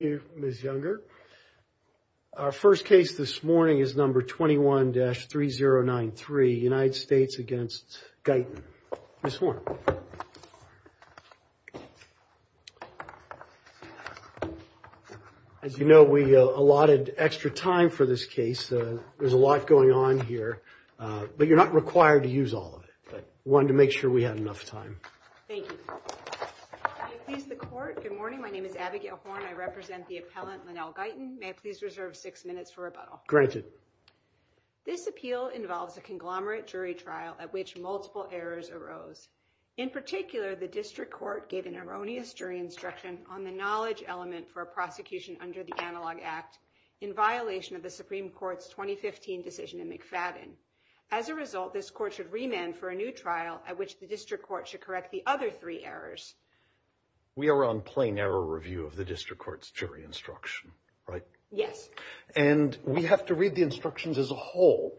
Thank you, Ms. Younger. Our first case this morning is number 21-3093, United States against Guyton. Ms. Horne. As you know, we allotted extra time for this case. There's a lot going on here, but you're not required to use all of it. I wanted to make sure we had enough time. Thank you. Good morning. My name is Abigail Horne. I represent the appellant, Lynell Guyton. May I please reserve six minutes for rebuttal? Granted. This appeal involves a conglomerate jury trial at which multiple errors arose. In particular, the district court gave an erroneous jury instruction on the knowledge element for a prosecution under the Analog Act in violation of the Supreme Court's 2015 decision in McFadden. As a result, this court should remand for a new trial at which the district court should correct the other three errors. We are on plain error review of the district court's jury instruction, right? Yes. And we have to read the instructions as a whole.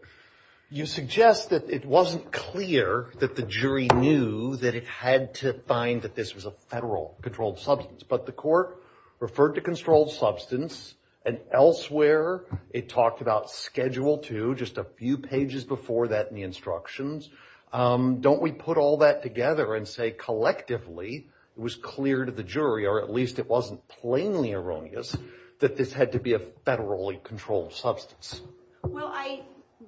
You suggest that it wasn't clear that the jury knew that it had to find that this was a federal controlled substance. But the court referred to controlled substance, and elsewhere it talked about Schedule II just a few pages before that in the instructions. Don't we put all that together and say collectively it was clear to the jury, or at least it wasn't plainly erroneous, that this had to be a federally controlled substance? Well, I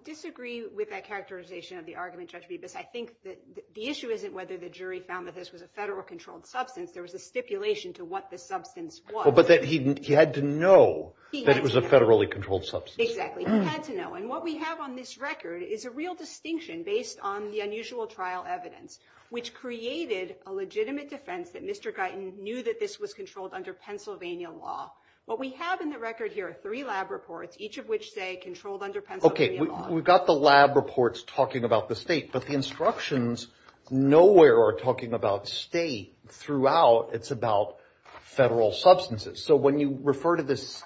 disagree with that characterization of the argument, Judge Bibas. I think that the issue isn't whether the jury found that this was a federal controlled substance. There was a stipulation to what the substance was. But that he had to know that it was a federally controlled substance. Exactly. He had to know. And what we have on this record is a real distinction based on the unusual trial evidence, which created a legitimate defense that Mr. Guyton knew that this was controlled under Pennsylvania law. What we have in the record here are three lab reports, each of which say controlled under Pennsylvania law. We've got the lab reports talking about the state, but the instructions nowhere are talking about state throughout. It's about federal substances. So when you refer to this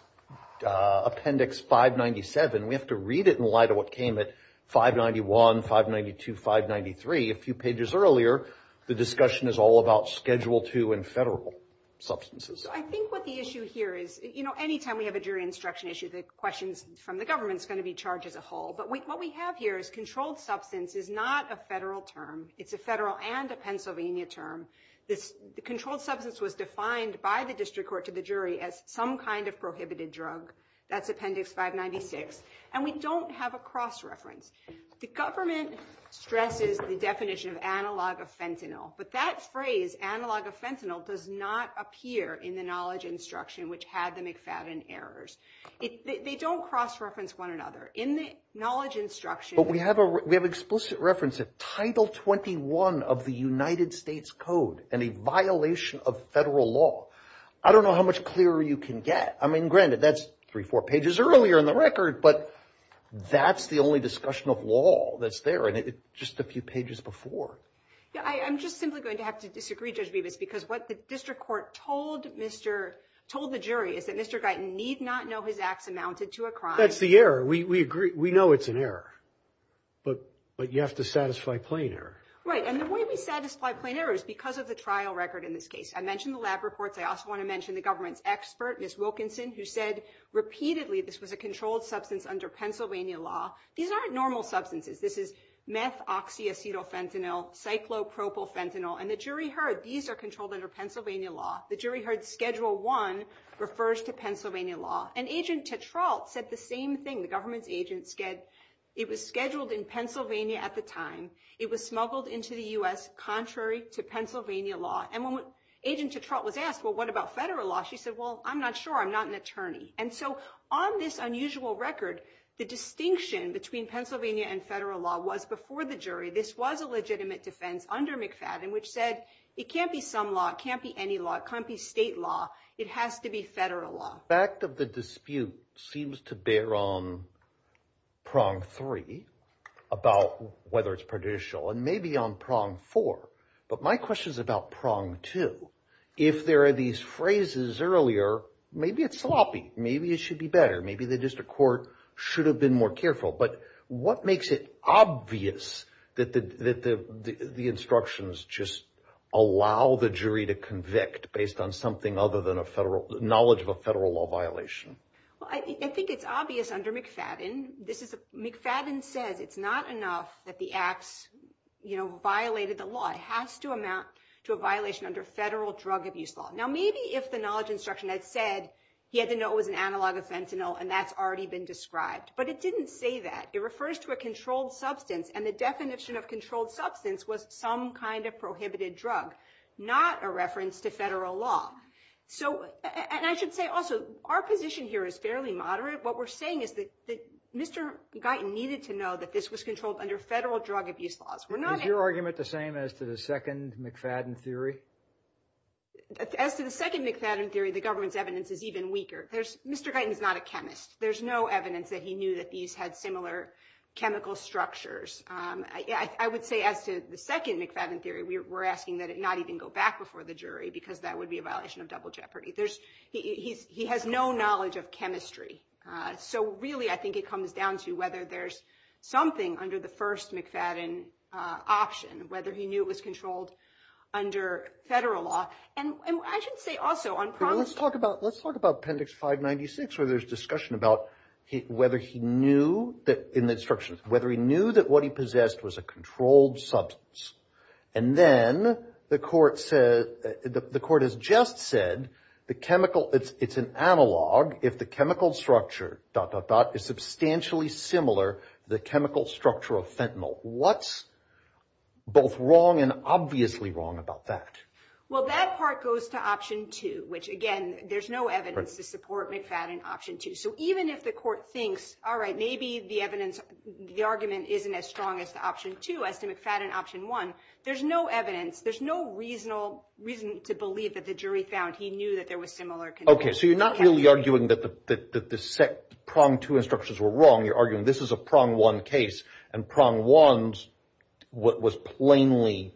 Appendix 597, we have to read it in light of what came at 591, 592, 593 a few pages earlier. The discussion is all about Schedule II and federal substances. I think what the issue here is, you know, anytime we have a jury instruction issue, the questions from the government is going to be charged as a whole. But what we have here is controlled substance is not a federal term. It's a federal and a Pennsylvania term. This controlled substance was defined by the district court to the jury as some kind of prohibited drug. That's Appendix 596. And we don't have a cross reference. The government stresses the definition of analog of fentanyl. But that phrase, analog of fentanyl, does not appear in the knowledge instruction, which had the McFadden errors. They don't cross reference one another. In the knowledge instruction... But we have explicit reference of Title 21 of the United States Code and a violation of federal law. I don't know how much clearer you can get. I mean, granted, that's three, four pages earlier in the record, but that's the only discussion of law that's there. And it's just a few pages before. Yeah, I'm just simply going to have to disagree, Judge Bevis, because what the district court told the jury is that Mr. Guyton need not know his acts amounted to a crime. That's the error. We agree. We know it's an error. But you have to satisfy plain error. Right. And the way we satisfy plain error is because of the trial record in this case. I mentioned the lab reports. I also want to mention the government's expert, Ms. Wilkinson, who said repeatedly this was a controlled substance under Pennsylvania law. These aren't normal substances. This is meth oxyacetyl fentanyl, cyclopropyl fentanyl. And the jury heard these are controlled under Pennsylvania law. The jury heard Schedule 1 refers to Pennsylvania law. And Agent Tetrault said the same thing. The government's agent said it was scheduled in Pennsylvania at the time. It was smuggled into the U.S. contrary to Pennsylvania law. And when Agent Tetrault was asked, well, what about federal law, she said, well, I'm not sure. I'm not an attorney. And so on this unusual record, the distinction between Pennsylvania and federal law was before the jury. This was a legitimate defense under McFadden, which said it can't be some law. It can't be any law. It can't be state law. It has to be federal law. The aspect of the dispute seems to bear on prong three about whether it's prudential and maybe on prong four. But my question is about prong two. If there are these phrases earlier, maybe it's sloppy. Maybe it should be better. Maybe the district court should have been more careful. But what makes it obvious that the instructions just allow the jury to convict based on something other than a federal knowledge of a federal law violation? Well, I think it's obvious under McFadden. McFadden says it's not enough that the acts violated the law. It has to amount to a violation under federal drug abuse law. Now, maybe if the knowledge instruction had said he had to know it was an analog offense, and that's already been described. But it didn't say that. It refers to a controlled substance. And the definition of controlled substance was some kind of prohibited drug, not a reference to federal law. And I should say also, our position here is fairly moderate. What we're saying is that Mr. Guyton needed to know that this was controlled under federal drug abuse laws. Is your argument the same as to the second McFadden theory? As to the second McFadden theory, the government's evidence is even weaker. Mr. Guyton is not a chemist. There's no evidence that he knew that these had similar chemical structures. I would say as to the second McFadden theory, we're asking that it not even go back before the jury because that would be a violation of double jeopardy. He has no knowledge of chemistry. So really, I think it comes down to whether there's something under the first McFadden option, whether he knew it was controlled under federal law. Let's talk about Appendix 596 where there's discussion about whether he knew in the instructions, whether he knew that what he possessed was a controlled substance. And then the court has just said it's an analog if the chemical structure is substantially similar to the chemical structure of fentanyl. What's both wrong and obviously wrong about that? Well, that part goes to Option 2, which, again, there's no evidence to support McFadden Option 2. So even if the court thinks, all right, maybe the evidence, the argument isn't as strong as the Option 2 as to McFadden Option 1, there's no evidence. There's no reason to believe that the jury found he knew that there was similar. OK, so you're not really arguing that the prong two instructions were wrong. You're arguing this is a prong one case and prong one was plainly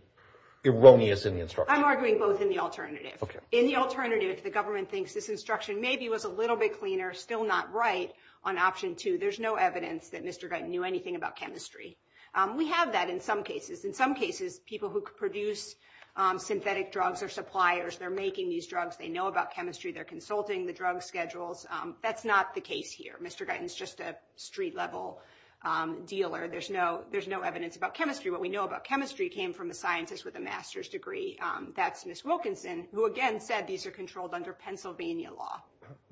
erroneous in the instructions. I'm arguing both in the alternative. In the alternative, if the government thinks this instruction maybe was a little bit cleaner, still not right, on Option 2, there's no evidence that Mr. Guyton knew anything about chemistry. We have that in some cases. In some cases, people who produce synthetic drugs are suppliers. They're making these drugs. They know about chemistry. They're consulting the drug schedules. That's not the case here. Mr. Guyton's just a street-level dealer. There's no evidence about chemistry. What we know about chemistry came from a scientist with a master's degree. That's Ms. Wilkinson, who again said these are controlled under Pennsylvania law.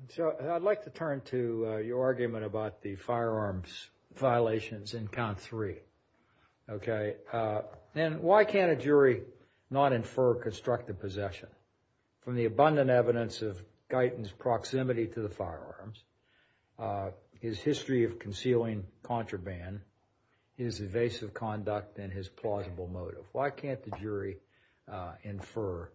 So I'd like to turn to your argument about the firearms violations in Count 3. OK, and why can't a jury not infer constructive possession from the abundant evidence of Guyton's proximity to the firearms, his history of concealing contraband, his evasive conduct, and his plausible motive? Why can't the jury infer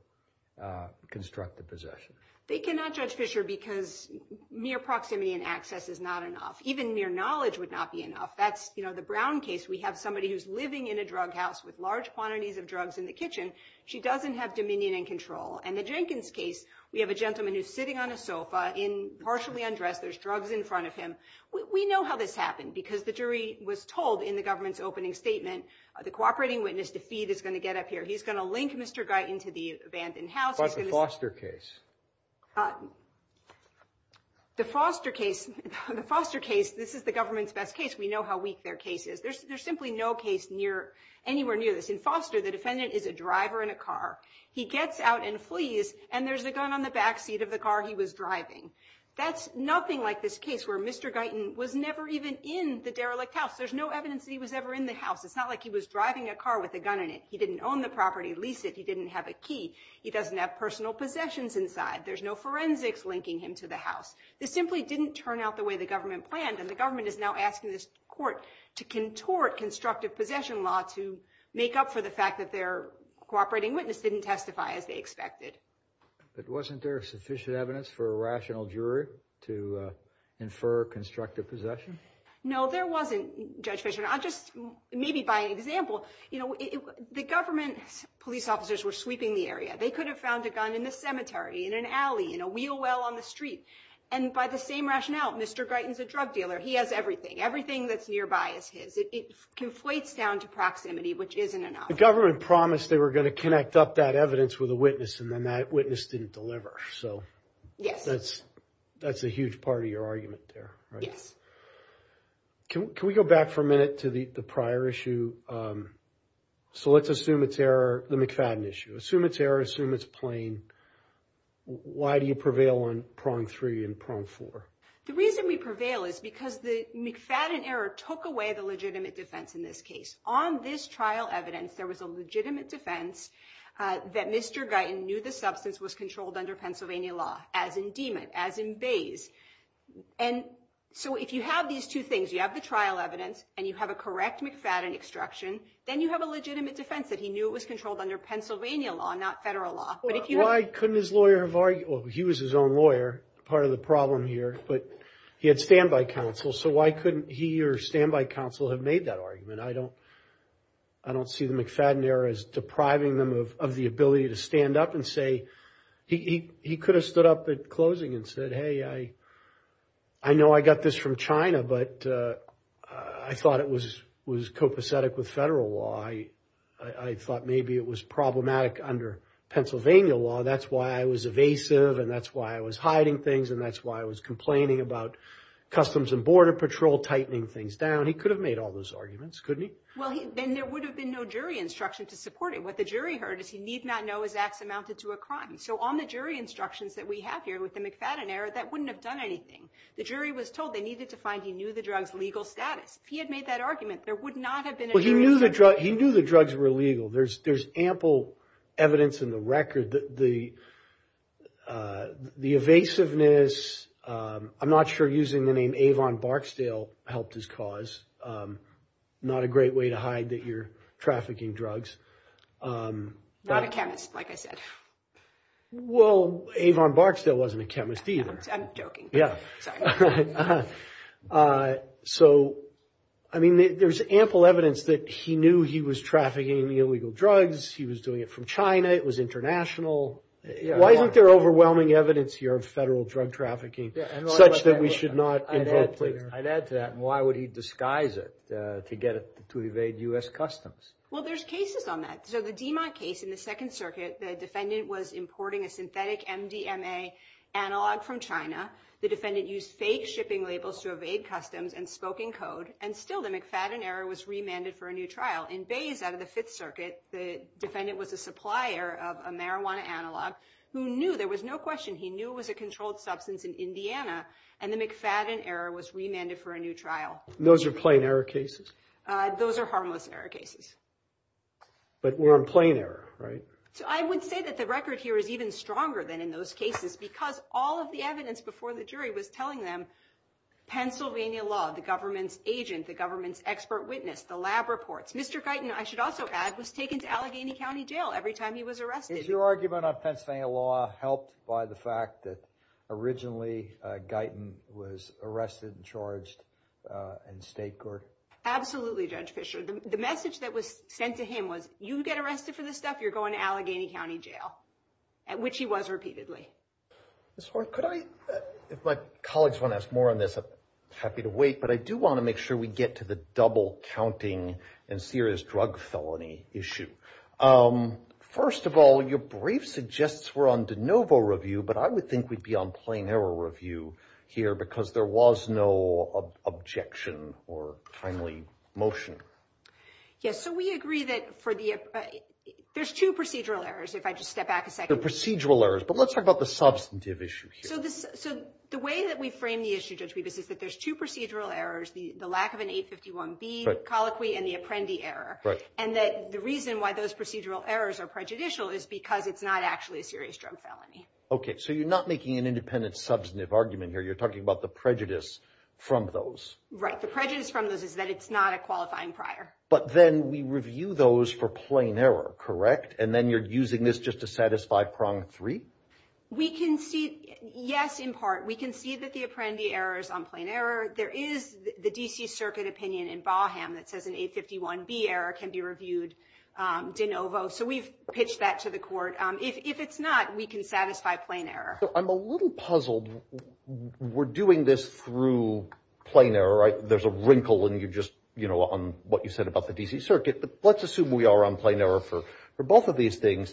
constructive possession? They cannot, Judge Fischer, because mere proximity and access is not enough. Even mere knowledge would not be enough. That's the Brown case. We have somebody who's living in a drug house with large quantities of drugs in the kitchen. She doesn't have dominion and control. And the Jenkins case, we have a gentleman who's sitting on a sofa, partially undressed. There's drugs in front of him. We know how this happened because the jury was told in the government's opening statement, the cooperating witness to feed is going to get up here. He's going to link Mr. Guyton to the abandoned house. What about the Foster case? The Foster case, this is the government's best case. We know how weak their case is. There's simply no case anywhere near this. In Foster, the defendant is a driver in a car. He gets out and flees, and there's a gun on the backseat of the car he was driving. That's nothing like this case where Mr. Guyton was never even in the derelict house. There's no evidence that he was ever in the house. It's not like he was driving a car with a gun in it. He didn't own the property, lease it. He didn't have a key. He doesn't have personal possessions inside. There's no forensics linking him to the house. This simply didn't turn out the way the government planned, and the government is now asking this court to contort constructive possession law to make up for the fact that their cooperating witness didn't testify as they expected. But wasn't there sufficient evidence for a rational jury to infer constructive possession? No, there wasn't, Judge Fischer. I'll just, maybe by example, you know, the government police officers were sweeping the area. They could have found a gun in the cemetery, in an alley, in a wheel well on the street. And by the same rationale, Mr. Guyton's a drug dealer. He has everything. Everything that's nearby is his. It conflates down to proximity, which isn't enough. The government promised they were going to connect up that evidence with a witness, and then that witness didn't deliver. So that's a huge part of your argument there, right? Yes. Can we go back for a minute to the prior issue? So let's assume it's error, the McFadden issue. Assume it's error. Assume it's plain. Why do you prevail on prong three and prong four? The reason we prevail is because the McFadden error took away the legitimate defense in this case. On this trial evidence, there was a legitimate defense that Mr. Guyton knew the substance was controlled under Pennsylvania law, as in Demut, as in Bayes. And so if you have these two things, you have the trial evidence and you have a correct McFadden extraction, then you have a legitimate defense that he knew it was controlled under Pennsylvania law, not federal law. Why couldn't his lawyer have argued? Well, he was his own lawyer, part of the problem here, but he had standby counsel, so why couldn't he or standby counsel have made that argument? I don't see the McFadden error as depriving them of the ability to stand up and say he could have stood up at closing and said, hey, I know I got this from China, but I thought it was copacetic with federal law. I thought maybe it was problematic under Pennsylvania law. That's why I was evasive, and that's why I was hiding things, and that's why I was complaining about Customs and Border Patrol tightening things down. He could have made all those arguments, couldn't he? Well, then there would have been no jury instruction to support it. What the jury heard is he need not know his acts amounted to a crime. So on the jury instructions that we have here with the McFadden error, that wouldn't have done anything. The jury was told they needed to find he knew the drug's legal status. If he had made that argument, there would not have been a jury instruction. Well, he knew the drugs were illegal. There's ample evidence in the record. The evasiveness, I'm not sure using the name Avon Barksdale helped his cause. Not a great way to hide that you're trafficking drugs. Not a chemist, like I said. Well, Avon Barksdale wasn't a chemist either. I'm joking. Yeah. Sorry. So, I mean, there's ample evidence that he knew he was trafficking illegal drugs. He was doing it from China. It was international. Why isn't there overwhelming evidence here of federal drug trafficking such that we should not invoke plea? I'd add to that. Why would he disguise it to get it to evade U.S. Customs? Well, there's cases on that. So the Demock case in the Second Circuit, the defendant was importing a synthetic MDMA analog from China. The defendant used fake shipping labels to evade customs and spoken code. And still the McFadden error was remanded for a new trial. In Bays out of the Fifth Circuit, the defendant was a supplier of a marijuana analog who knew there was no question he knew it was a controlled substance in Indiana. And the McFadden error was remanded for a new trial. Those are plain error cases? Those are harmless error cases. But we're on plain error, right? So I would say that the record here is even stronger than in those cases because all of the evidence before the jury was telling them Pennsylvania law, the government's agent, the government's expert witness, the lab reports. Mr. Guyton, I should also add, was taken to Allegheny County Jail every time he was arrested. Is your argument on Pennsylvania law helped by the fact that originally Guyton was arrested and charged in state court? Absolutely, Judge Fischer. The message that was sent to him was, you get arrested for this stuff, you're going to Allegheny County Jail, which he was repeatedly. Ms. Horne, if my colleagues want to ask more on this, I'm happy to wait. But I do want to make sure we get to the double counting and serious drug felony issue. First of all, your brief suggests we're on de novo review, but I would think we'd be on plain error review here because there was no objection or timely motion. Yes, so we agree that there's two procedural errors, if I just step back a second. Procedural errors, but let's talk about the substantive issue here. So the way that we frame the issue, Judge Bevis, is that there's two procedural errors, the lack of an 851B colloquy and the apprendi error. And that the reason why those procedural errors are prejudicial is because it's not actually a serious drug felony. OK, so you're not making an independent substantive argument here, you're talking about the prejudice from those. Right, the prejudice from those is that it's not a qualifying prior. But then we review those for plain error, correct? And then you're using this just to satisfy prong three? We can see, yes, in part, we can see that the apprendi error is on plain error. There is the D.C. Circuit opinion in Baham that says an 851B error can be reviewed de novo. So we've pitched that to the court. If it's not, we can satisfy plain error. I'm a little puzzled. We're doing this through plain error, right? There's a wrinkle and you just, you know, on what you said about the D.C. Circuit. Let's assume we are on plain error for both of these things.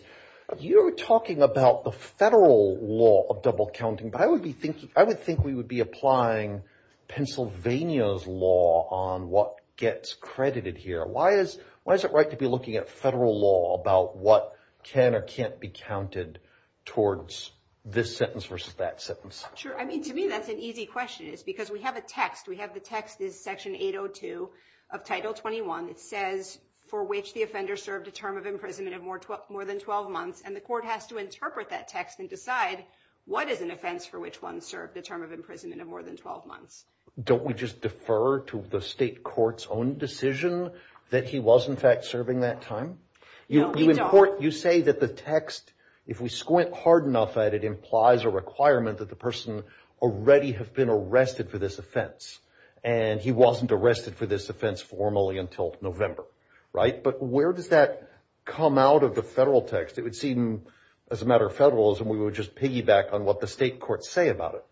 You're talking about the federal law of double counting. But I would be thinking I would think we would be applying Pennsylvania's law on what gets credited here. Why is why is it right to be looking at federal law about what can or can't be counted towards this sentence versus that sentence? Sure. I mean, to me, that's an easy question is because we have a text. We have the text is Section 802 of Title 21. It says for which the offender served a term of imprisonment of more than 12 months. And the court has to interpret that text and decide what is an offense for which one served a term of imprisonment of more than 12 months. Don't we just defer to the state court's own decision that he was, in fact, serving that time? You say that the text, if we squint hard enough at it, implies a requirement that the person already have been arrested for this offense. And he wasn't arrested for this offense formally until November. Right. But where does that come out of the federal text? It would seem as a matter of federalism, we would just piggyback on what the state courts say about it.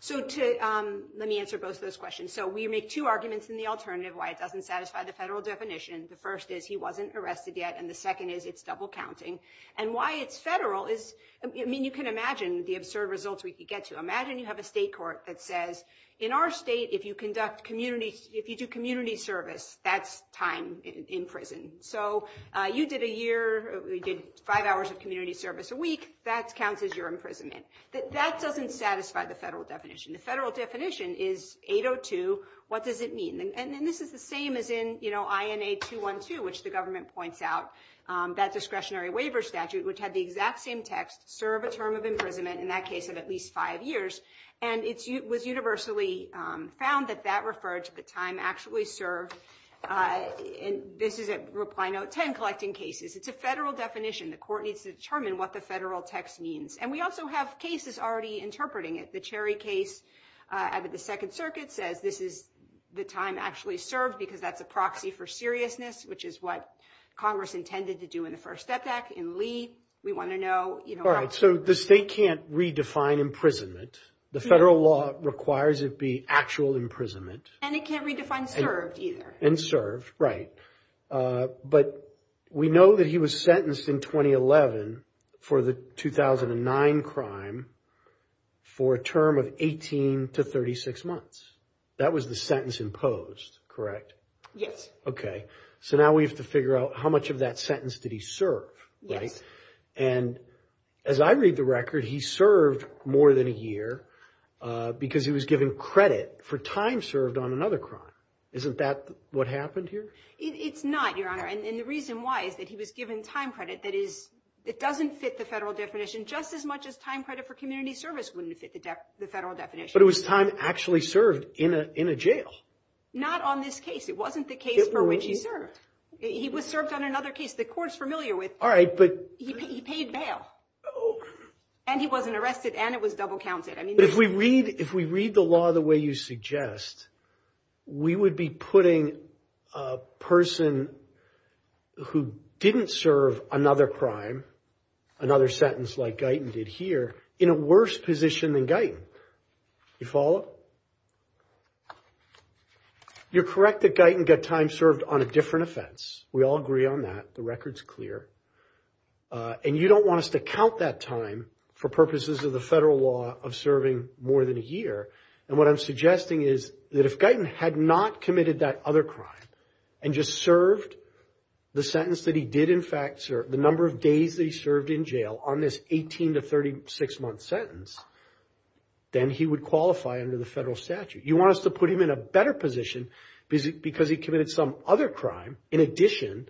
So let me answer both of those questions. So we make two arguments in the alternative why it doesn't satisfy the federal definition. The first is he wasn't arrested yet. And the second is it's double counting. And why it's federal is, I mean, you can imagine the absurd results we could get to. Imagine you have a state court that says, in our state, if you conduct community, if you do community service, that's time in prison. So you did a year, we did five hours of community service a week. That counts as your imprisonment. That doesn't satisfy the federal definition. The federal definition is 802. What does it mean? And this is the same as in, you know, INA 212, which the government points out that discretionary waiver statute, which had the exact same text, serve a term of imprisonment in that case of at least five years. And it was universally found that that referred to the time actually served. And this is a reply note 10 collecting cases. It's a federal definition. The court needs to determine what the federal text means. And we also have cases already interpreting it. The Cherry case at the Second Circuit says this is the time actually served because that's a proxy for seriousness, which is what Congress intended to do in the first step back in Lee. We want to know. All right. So the state can't redefine imprisonment. The federal law requires it be actual imprisonment. And it can't redefine served either. And served. Right. But we know that he was sentenced in 2011 for the 2009 crime for a term of 18 to 36 months. That was the sentence imposed. Correct? Yes. OK. So now we have to figure out how much of that sentence did he serve. Right. And as I read the record, he served more than a year because he was given credit for time served on another crime. Isn't that what happened here? It's not, Your Honor. And the reason why is that he was given time credit. That is, it doesn't fit the federal definition. Just as much as time credit for community service wouldn't fit the federal definition. But it was time actually served in a jail. Not on this case. It wasn't the case for which he served. He was served on another case. The court's familiar with. All right. But he paid bail. And he wasn't arrested. And it was double counted. I mean, if we read if we read the law the way you suggest, we would be putting a person who didn't serve another crime, another sentence like Guyton did here, in a worse position than Guyton. You follow? You're correct that Guyton got time served on a different offense. We all agree on that. The record's clear. And you don't want us to count that time for purposes of the federal law of serving more than a year. And what I'm suggesting is that if Guyton had not committed that other crime and just served the sentence that he did in fact serve, the number of days that he served in jail on this 18 to 36 month sentence, then he would qualify under the federal statute. You want us to put him in a better position because he committed some other crime in addition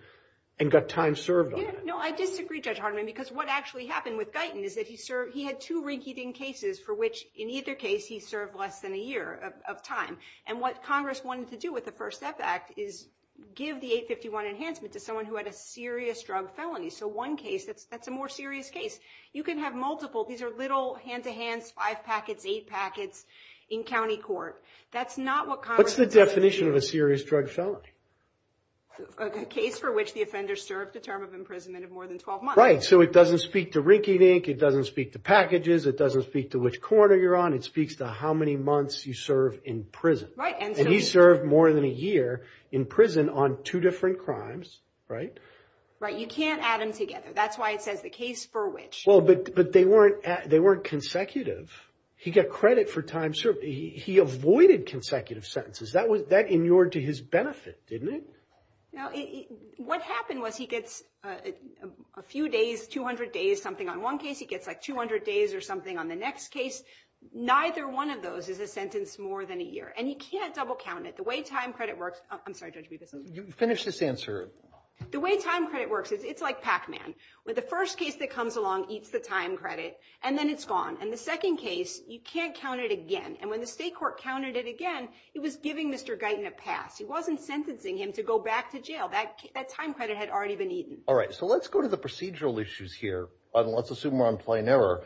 and got time served on it. No, I disagree, Judge Hardiman, because what actually happened with Guyton is that he served. There were two rinky dink cases for which in either case he served less than a year of time. And what Congress wanted to do with the First Step Act is give the 851 enhancement to someone who had a serious drug felony. So one case, that's a more serious case. You can have multiple. These are little hand to hands, five packets, eight packets in county court. What's the definition of a serious drug felony? A case for which the offender served a term of imprisonment of more than 12 months. Right. So it doesn't speak to rinky dink. It doesn't speak to packages. It doesn't speak to which corner you're on. It speaks to how many months you serve in prison. And he served more than a year in prison on two different crimes, right? Right. You can't add them together. That's why it says the case for which. But they weren't consecutive. He got credit for time served. He avoided consecutive sentences. That inured to his benefit, didn't it? Now, what happened was he gets a few days, 200 days, something on one case. He gets like 200 days or something on the next case. Neither one of those is a sentence more than a year. And you can't double count it. The way time credit works. I'm sorry. Finish this answer. The way time credit works is it's like Pac-Man with the first case that comes along, eats the time credit and then it's gone. And the second case, you can't count it again. And when the state court counted it again, it was giving Mr. Guyton a pass. He wasn't sentencing him to go back to jail. That time credit had already been eaten. All right. So let's go to the procedural issues here. Let's assume we're on plain error.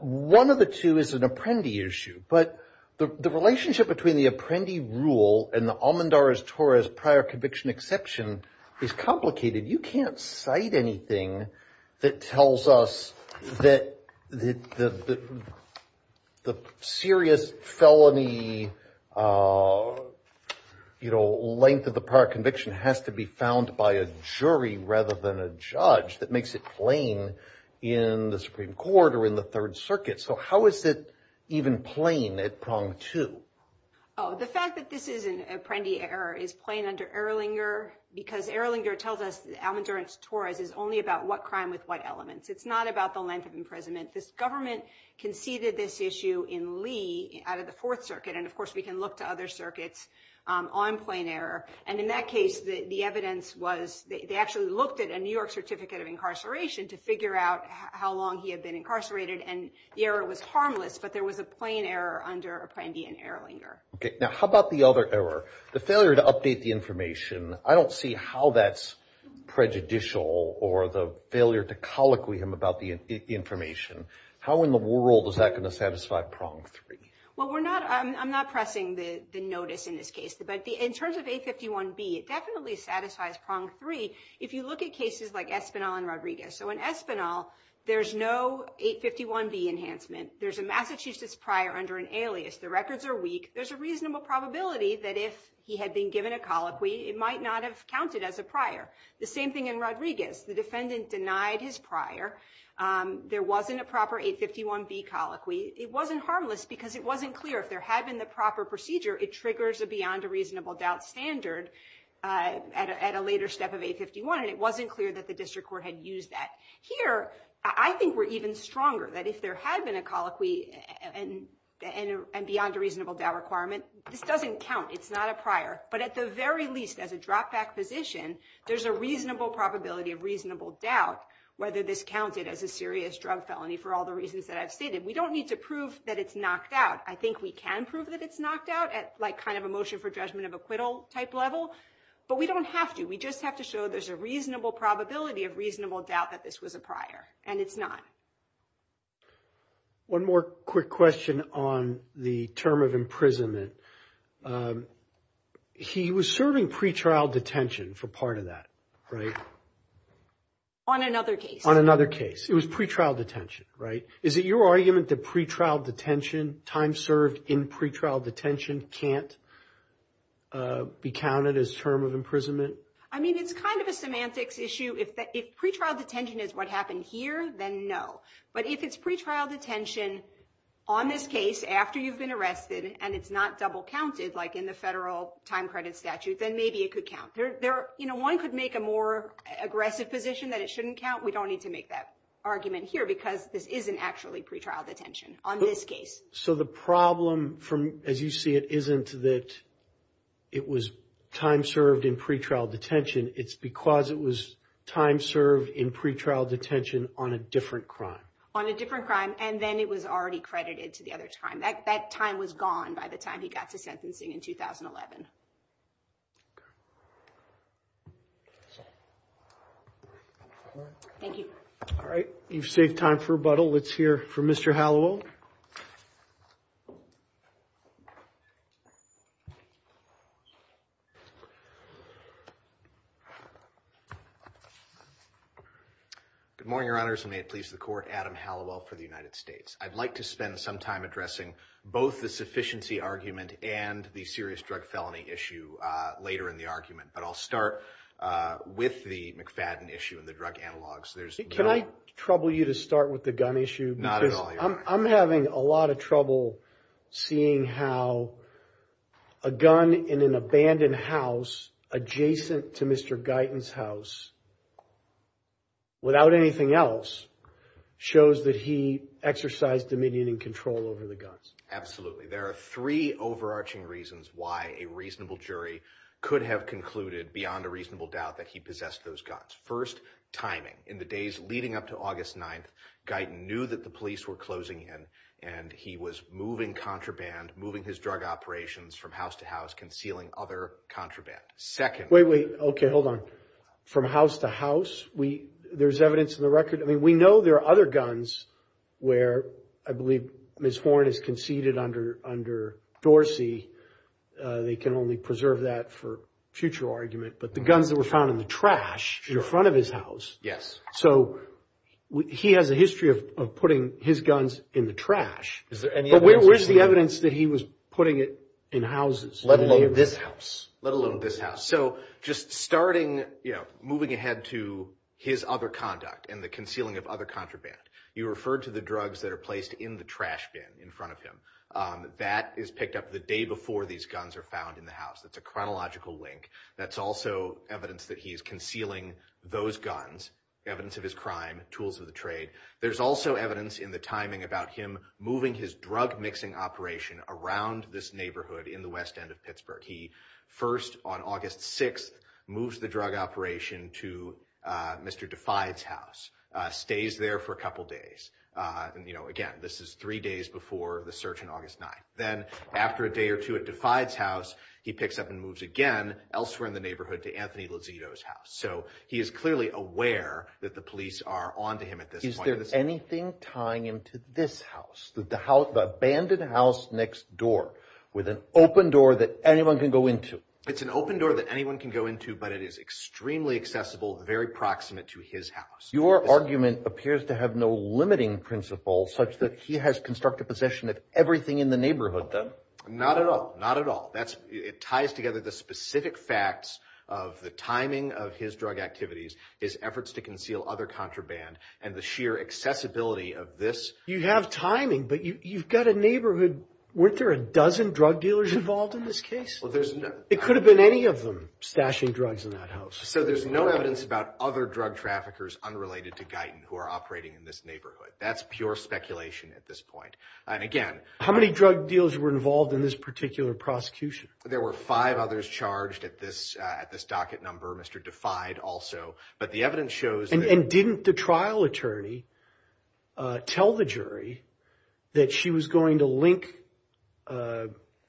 One of the two is an apprendi issue. But the relationship between the apprendi rule and the Almandar-Torres prior conviction exception is complicated. You can't cite anything that tells us that the serious felony length of the prior conviction has to be found by a jury rather than a judge. That makes it plain in the Supreme Court or in the Third Circuit. So how is it even plain at prong two? Oh, the fact that this is an apprendi error is plain under Erlinger because Erlinger tells us Almandar-Torres is only about what crime with what elements. It's not about the length of imprisonment. This government conceded this issue in Lee out of the Fourth Circuit. And of course, we can look to other circuits on plain error. And in that case, the evidence was they actually looked at a New York certificate of incarceration to figure out how long he had been incarcerated. And the error was harmless. But there was a plain error under Apprendi and Erlinger. Now, how about the other error, the failure to update the information? I don't see how that's prejudicial or the failure to colloquium about the information. How in the world is that going to satisfy prong three? Well, we're not I'm not pressing the notice in this case. But in terms of 851B, it definitely satisfies prong three. If you look at cases like Espinal and Rodriguez. So in Espinal, there's no 851B enhancement. There's a Massachusetts prior under an alias. The records are weak. There's a reasonable probability that if he had been given a colloquy, it might not have counted as a prior. The same thing in Rodriguez. The defendant denied his prior. There wasn't a proper 851B colloquy. It wasn't harmless because it wasn't clear if there had been the proper procedure, it triggers a beyond a reasonable doubt standard at a later step of 851. And it wasn't clear that the district court had used that. Here, I think we're even stronger that if there had been a colloquy and beyond a reasonable doubt requirement, this doesn't count. It's not a prior. But at the very least, as a dropback position, there's a reasonable probability of reasonable doubt whether this counted as a serious drug felony for all the reasons that I've stated. We don't need to prove that it's knocked out. I think we can prove that it's knocked out at like kind of a motion for judgment of acquittal type level. But we don't have to. We just have to show there's a reasonable probability of reasonable doubt that this was a prior and it's not. One more quick question on the term of imprisonment. He was serving pretrial detention for part of that. Right. On another case, on another case, it was pretrial detention. Right. Is it your argument that pretrial detention time served in pretrial detention can't be counted as term of imprisonment? I mean, it's kind of a semantics issue. If pretrial detention is what happened here, then no. But if it's pretrial detention on this case after you've been arrested and it's not double counted, like in the federal time credit statute, then maybe it could count there. Or, you know, one could make a more aggressive position that it shouldn't count. We don't need to make that argument here because this isn't actually pretrial detention on this case. So the problem, as you see it, isn't that it was time served in pretrial detention. It's because it was time served in pretrial detention on a different crime. And then it was already credited to the other time. That time was gone by the time he got to sentencing in 2011. Thank you. All right. You've saved time for rebuttal. Let's hear from Mr. Hallowell. Good morning, Your Honors, and may it please the Court. Adam Hallowell for the United States. I'd like to spend some time addressing both the sufficiency argument and the serious drug felony issue later in the argument. But I'll start with the McFadden issue and the drug analogs. Can I trouble you to start with the gun issue? Not at all, Your Honor. I'm having a lot of trouble seeing how a gun in an abandoned house adjacent to Mr. Guyton's house, without anything else, shows that he exercised dominion and control over the guns. Absolutely. There are three overarching reasons why a reasonable jury could have concluded, beyond a reasonable doubt, that he possessed those guns. First, timing. In the days leading up to August 9th, Guyton knew that the police were closing in and he was moving contraband, moving his drug operations from house to house, concealing other contraband. Wait, wait. OK, hold on. From house to house, there's evidence in the record. I mean, we know there are other guns where I believe Ms. Horne has conceded under Dorsey. They can only preserve that for future argument. But the guns that were found in the trash in front of his house. Yes. So he has a history of putting his guns in the trash. Is there any evidence? Where's the evidence that he was putting it in houses? Let alone this house. Let alone this house. So just starting, you know, moving ahead to his other conduct and the concealing of other contraband, you referred to the drugs that are placed in the trash bin in front of him. That is picked up the day before these guns are found in the house. That's a chronological link. That's also evidence that he is concealing those guns, evidence of his crime, tools of the trade. There's also evidence in the timing about him moving his drug mixing operation around this neighborhood in the west end of Pittsburgh. He first, on August 6th, moves the drug operation to Mr. Defy's house, stays there for a couple of days. And, you know, again, this is three days before the search on August 9th. Then after a day or two at Defy's house, he picks up and moves again elsewhere in the neighborhood to Anthony Lozito's house. So he is clearly aware that the police are on to him at this point. Is there anything tying him to this house, the abandoned house next door with an open door that anyone can go into? It's an open door that anyone can go into, but it is extremely accessible, very proximate to his house. Your argument appears to have no limiting principle such that he has constructed possession of everything in the neighborhood, then? Not at all. Not at all. It ties together the specific facts of the timing of his drug activities, his efforts to conceal other contraband, and the sheer accessibility of this. You have timing, but you've got a neighborhood. Weren't there a dozen drug dealers involved in this case? It could have been any of them stashing drugs in that house. So there's no evidence about other drug traffickers unrelated to Guyton who are operating in this neighborhood. That's pure speculation at this point. And again— How many drug dealers were involved in this particular prosecution? There were five others charged at this docket number, Mr. Defy also. But the evidence shows— And didn't the trial attorney tell the jury that she was going to link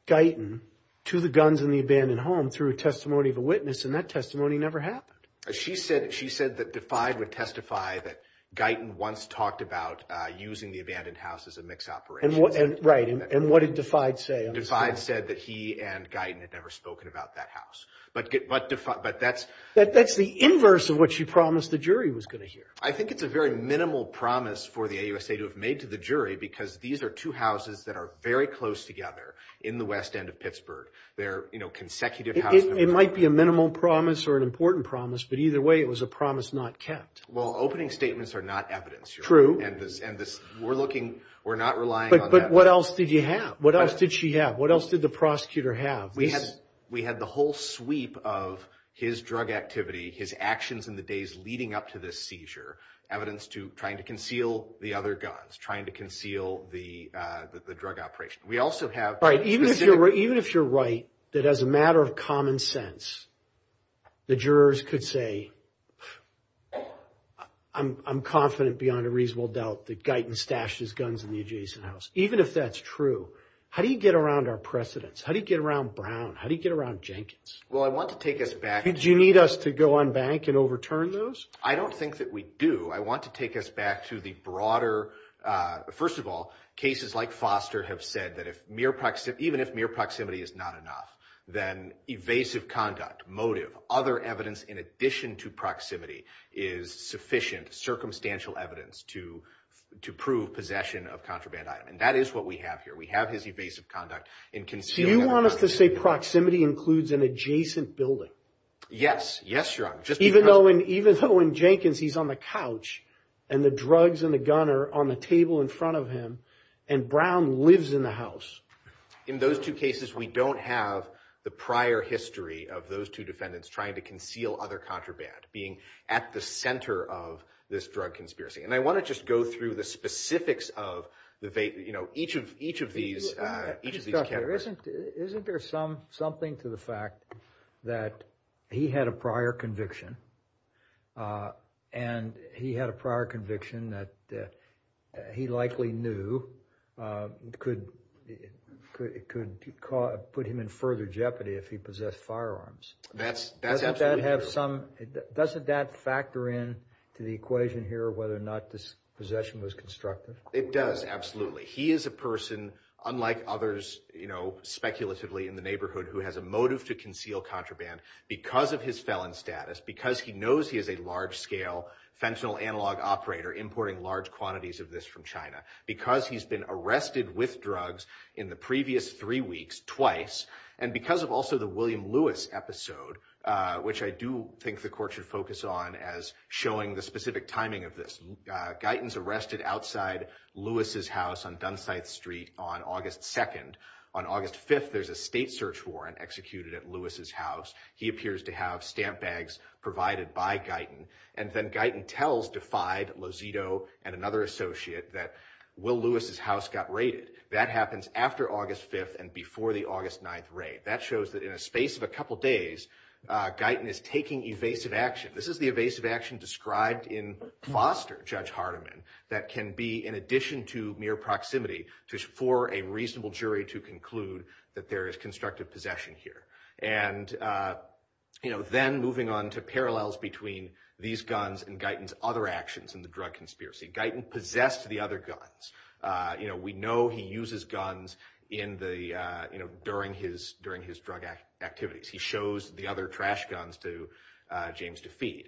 Guyton to the guns in the abandoned home through a testimony of a witness? And that testimony never happened. She said that Defy would testify that Guyton once talked about using the abandoned house as a mixed operation. Right. And what did Defy say? Defy said that he and Guyton had never spoken about that house. But that's— That's the inverse of what she promised the jury was going to hear. I think it's a very minimal promise for the AUSA to have made to the jury because these are two houses that are very close together in the west end of Pittsburgh. They're, you know, consecutive houses. It might be a minimal promise or an important promise, but either way it was a promise not kept. Well, opening statements are not evidence. True. And this—we're looking—we're not relying on that. But what else did you have? What else did she have? What else did the prosecutor have? We had the whole sweep of his drug activity, his actions in the days leading up to this seizure, evidence to trying to conceal the other guns, trying to conceal the drug operation. We also have— All right. Even if you're right, that as a matter of common sense, the jurors could say, I'm confident beyond a reasonable doubt that Guyton stashed his guns in the adjacent house. Even if that's true, how do you get around our precedents? How do you get around Brown? How do you get around Jenkins? Well, I want to take us back— Did you need us to go on bank and overturn those? I don't think that we do. I want to take us back to the broader— First of all, cases like Foster have said that even if mere proximity is not enough, then evasive conduct, motive, other evidence in addition to proximity is sufficient circumstantial evidence to prove possession of contraband item. And that is what we have here. We have his evasive conduct in concealed evidence. Do you want us to say proximity includes an adjacent building? Yes. Yes, Your Honor. Even though in Jenkins, he's on the couch, and the drugs and the gun are on the table in front of him, and Brown lives in the house. In those two cases, we don't have the prior history of those two defendants trying to conceal other contraband, being at the center of this drug conspiracy. And I want to just go through the specifics of each of these categories. Isn't there something to the fact that he had a prior conviction, and he had a prior conviction that he likely knew could put him in further jeopardy if he possessed firearms? That's absolutely true. Doesn't that factor in to the equation here, whether or not this possession was constructive? It does, absolutely. He is a person, unlike others, you know, speculatively in the neighborhood, who has a motive to conceal contraband because of his felon status, because he knows he is a large-scale fentanyl analog operator importing large quantities of this from China, because he's been arrested with drugs in the previous three weeks twice, and because of also the William Lewis episode, which I do think the court should focus on as showing the specific timing of this. Guyton's arrested outside Lewis's house on Dunsite Street on August 2nd. On August 5th, there's a state search warrant executed at Lewis's house. He appears to have stamp bags provided by Guyton, and then Guyton tells DeFide, Lozito, and another associate that Will Lewis's house got raided. That happens after August 5th and before the August 9th raid. That shows that in a space of a couple days, Guyton is taking evasive action. This is the evasive action described in Foster, Judge Hardiman, that can be, in addition to mere proximity, for a reasonable jury to conclude that there is constructive possession here. And, you know, then moving on to parallels between these guns and Guyton's other actions in the drug conspiracy. Guyton possessed the other guns. You know, we know he uses guns in the, you know, during his drug activities. He shows the other trash guns to James DeFede.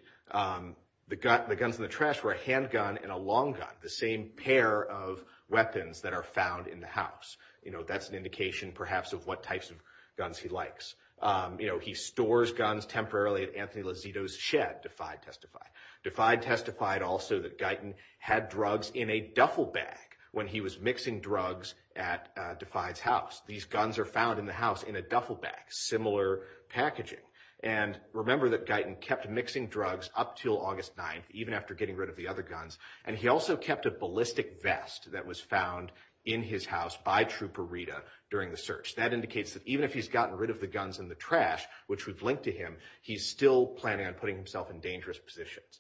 The guns in the trash were a handgun and a long gun, the same pair of weapons that are found in the house. You know, that's an indication, perhaps, of what types of guns he likes. You know, he stores guns temporarily at Anthony Lozito's shed, DeFide testified. DeFide testified also that Guyton had drugs in a duffel bag when he was mixing drugs at DeFide's house. These guns are found in the house in a duffel bag, similar packaging. And remember that Guyton kept mixing drugs up until August 9th, even after getting rid of the other guns. And he also kept a ballistic vest that was found in his house by Trooper Rita during the search. That indicates that even if he's gotten rid of the guns in the trash, which would link to him, he's still planning on putting himself in dangerous positions.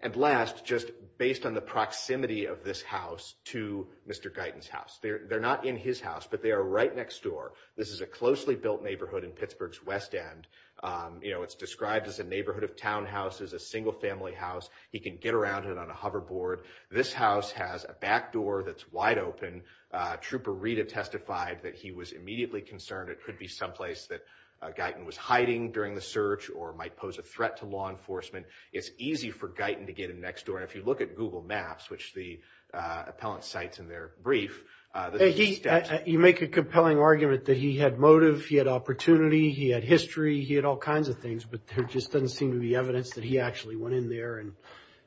And last, just based on the proximity of this house to Mr. Guyton's house. They're not in his house, but they are right next door. This is a closely built neighborhood in Pittsburgh's West End. You know, it's described as a neighborhood of townhouses, a single-family house. He can get around it on a hoverboard. This house has a back door that's wide open. Trooper Rita testified that he was immediately concerned it could be someplace that Guyton was hiding during the search or might pose a threat to law enforcement. It's easy for Guyton to get in next door. And if you look at Google Maps, which the appellant cites in their brief. You make a compelling argument that he had motive, he had opportunity, he had history, he had all kinds of things, but there just doesn't seem to be evidence that he actually went in there and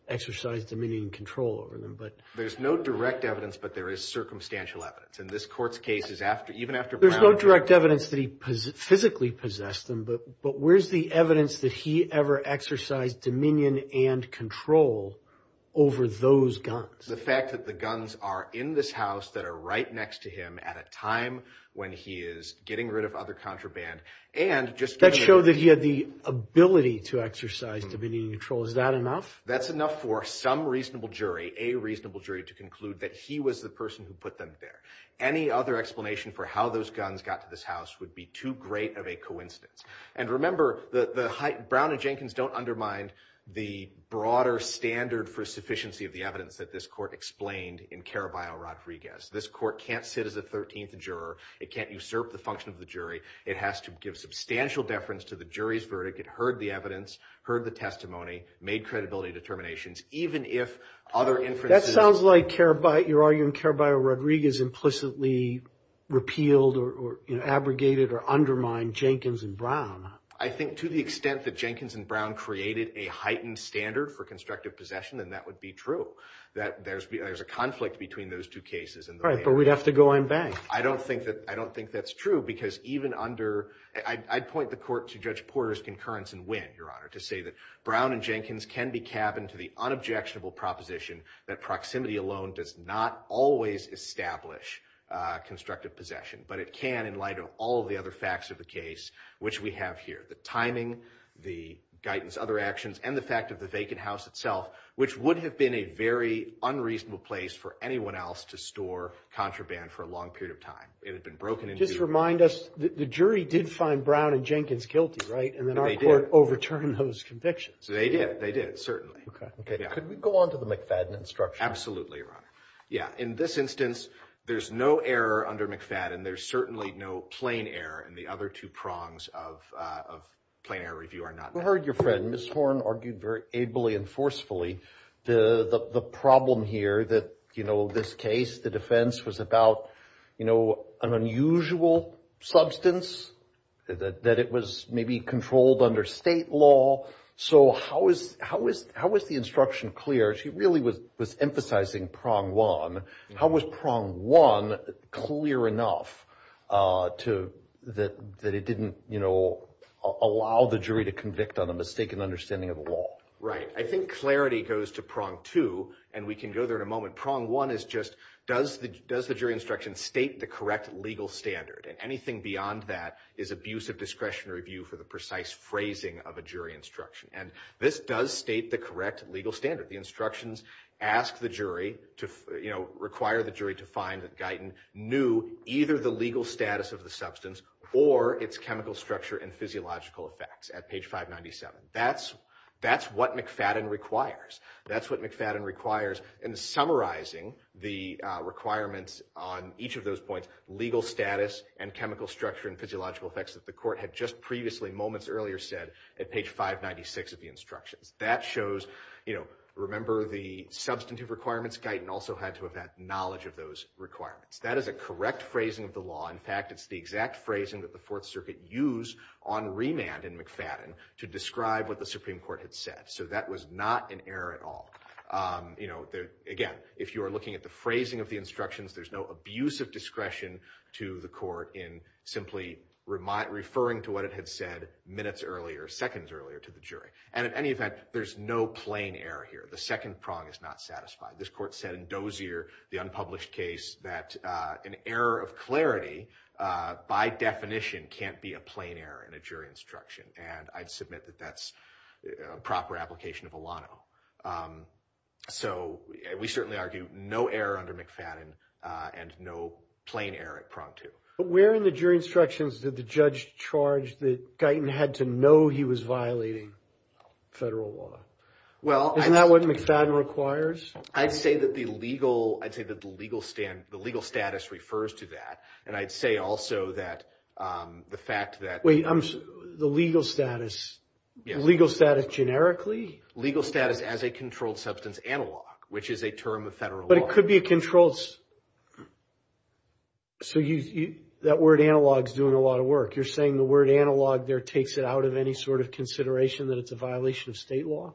exercised dominion and control over them. There's no direct evidence, but there is circumstantial evidence. In this court's case, even after Brown. There's no direct evidence that he physically possessed them, but where's the evidence that he ever exercised dominion and control over those guns? The fact that the guns are in this house that are right next to him at a time when he is getting rid of other contraband. That showed that he had the ability to exercise dominion and control. Is that enough? That's enough for some reasonable jury, a reasonable jury, to conclude that he was the person who put them there. Any other explanation for how those guns got to this house would be too great of a coincidence. And remember, the Brown and Jenkins don't undermine the broader standard for sufficiency of the evidence that this court explained in Caraballo-Rodriguez. This court can't sit as a 13th juror. It can't usurp the function of the jury. It has to give substantial deference to the jury's verdict. It heard the evidence, heard the testimony, made credibility determinations, even if other inferences. It sounds like you're arguing Caraballo-Rodriguez implicitly repealed or abrogated or undermined Jenkins and Brown. I think to the extent that Jenkins and Brown created a heightened standard for constructive possession, then that would be true, that there's a conflict between those two cases. Right, but we'd have to go unbanked. I don't think that's true because even under – I'd point the court to Judge Porter's concurrence and win, Your Honor, to say that Brown and Jenkins can be cabined to the unobjectionable proposition that proximity alone does not always establish constructive possession, but it can in light of all the other facts of the case, which we have here, the timing, the guidance, other actions, and the fact of the vacant house itself, which would have been a very unreasonable place for anyone else to store contraband for a long period of time. It had been broken into. Just remind us, the jury did find Brown and Jenkins guilty, right, and then our court overturned those convictions. They did, they did, certainly. Okay. Could we go on to the McFadden instruction? Absolutely, Your Honor. Yeah, in this instance, there's no error under McFadden. There's certainly no plain error, and the other two prongs of plain error review are not met. We heard your friend, Ms. Horne, argued very ably and forcefully, the problem here that, you know, this case, the defense, was about, you know, an unusual substance, that it was maybe controlled under state law. So how is the instruction clear? She really was emphasizing prong one. How was prong one clear enough that it didn't, you know, allow the jury to convict on a mistaken understanding of the law? Right. I think clarity goes to prong two, and we can go there in a moment. Prong one is just, does the jury instruction state the correct legal standard, and anything beyond that is abusive discretionary review for the precise phrasing of a jury instruction. And this does state the correct legal standard. The instructions ask the jury to, you know, require the jury to find that Guyton knew either the legal status of the substance or its chemical structure and physiological effects at page 597. That's what McFadden requires. That's what McFadden requires in summarizing the requirements on each of those points, legal status and chemical structure and physiological effects that the court had just previously moments earlier said at page 596 of the instructions. That shows, you know, remember the substantive requirements, Guyton also had to have had knowledge of those requirements. That is a correct phrasing of the law. In fact, it's the exact phrasing that the Fourth Circuit used on remand in McFadden to describe what the Supreme Court had said. So that was not an error at all. You know, again, if you are looking at the phrasing of the instructions, there's no abuse of discretion to the court in simply referring to what it had said minutes earlier, seconds earlier to the jury. And in any event, there's no plain error here. The second prong is not satisfied. This court said in Dozier, the unpublished case, that an error of clarity by definition can't be a plain error in a jury instruction. And I'd submit that that's a proper application of Alano. So we certainly argue no error under McFadden and no plain error at prong two. But where in the jury instructions did the judge charge that Guyton had to know he was violating federal law? Isn't that what McFadden requires? I'd say that the legal status refers to that. And I'd say also that the fact that— Wait, the legal status. Yes. Legal status generically? Legal status as a controlled substance analog, which is a term of federal law. But it could be a controlled— So that word analog is doing a lot of work. You're saying the word analog there takes it out of any sort of consideration that it's a violation of state law?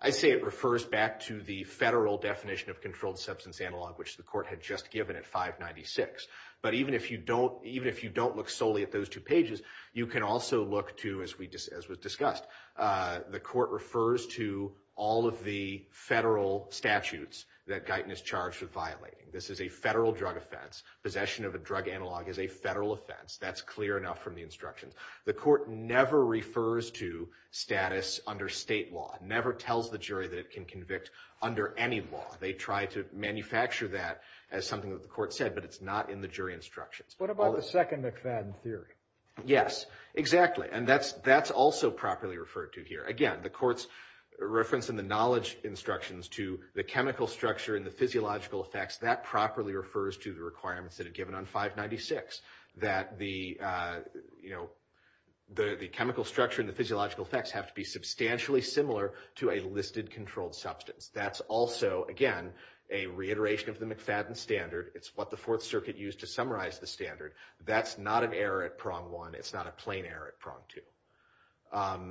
I'd say it refers back to the federal definition of controlled substance analog, which the court had just given at 596. But even if you don't look solely at those two pages, you can also look to, as was discussed, the court refers to all of the federal statutes that Guyton is charged with violating. This is a federal drug offense. Possession of a drug analog is a federal offense. That's clear enough from the instructions. The court never refers to status under state law, never tells the jury that it can convict under any law. They try to manufacture that as something that the court said, but it's not in the jury instructions. What about the second McFadden theory? Yes, exactly. And that's also properly referred to here. Again, the court's reference in the knowledge instructions to the chemical structure and the physiological effects, that properly refers to the requirements that are given on 596, that the chemical structure and the physiological effects have to be substantially similar to a listed controlled substance. That's also, again, a reiteration of the McFadden standard. It's what the Fourth Circuit used to summarize the standard. That's not an error at prong one. It's not a plain error at prong two.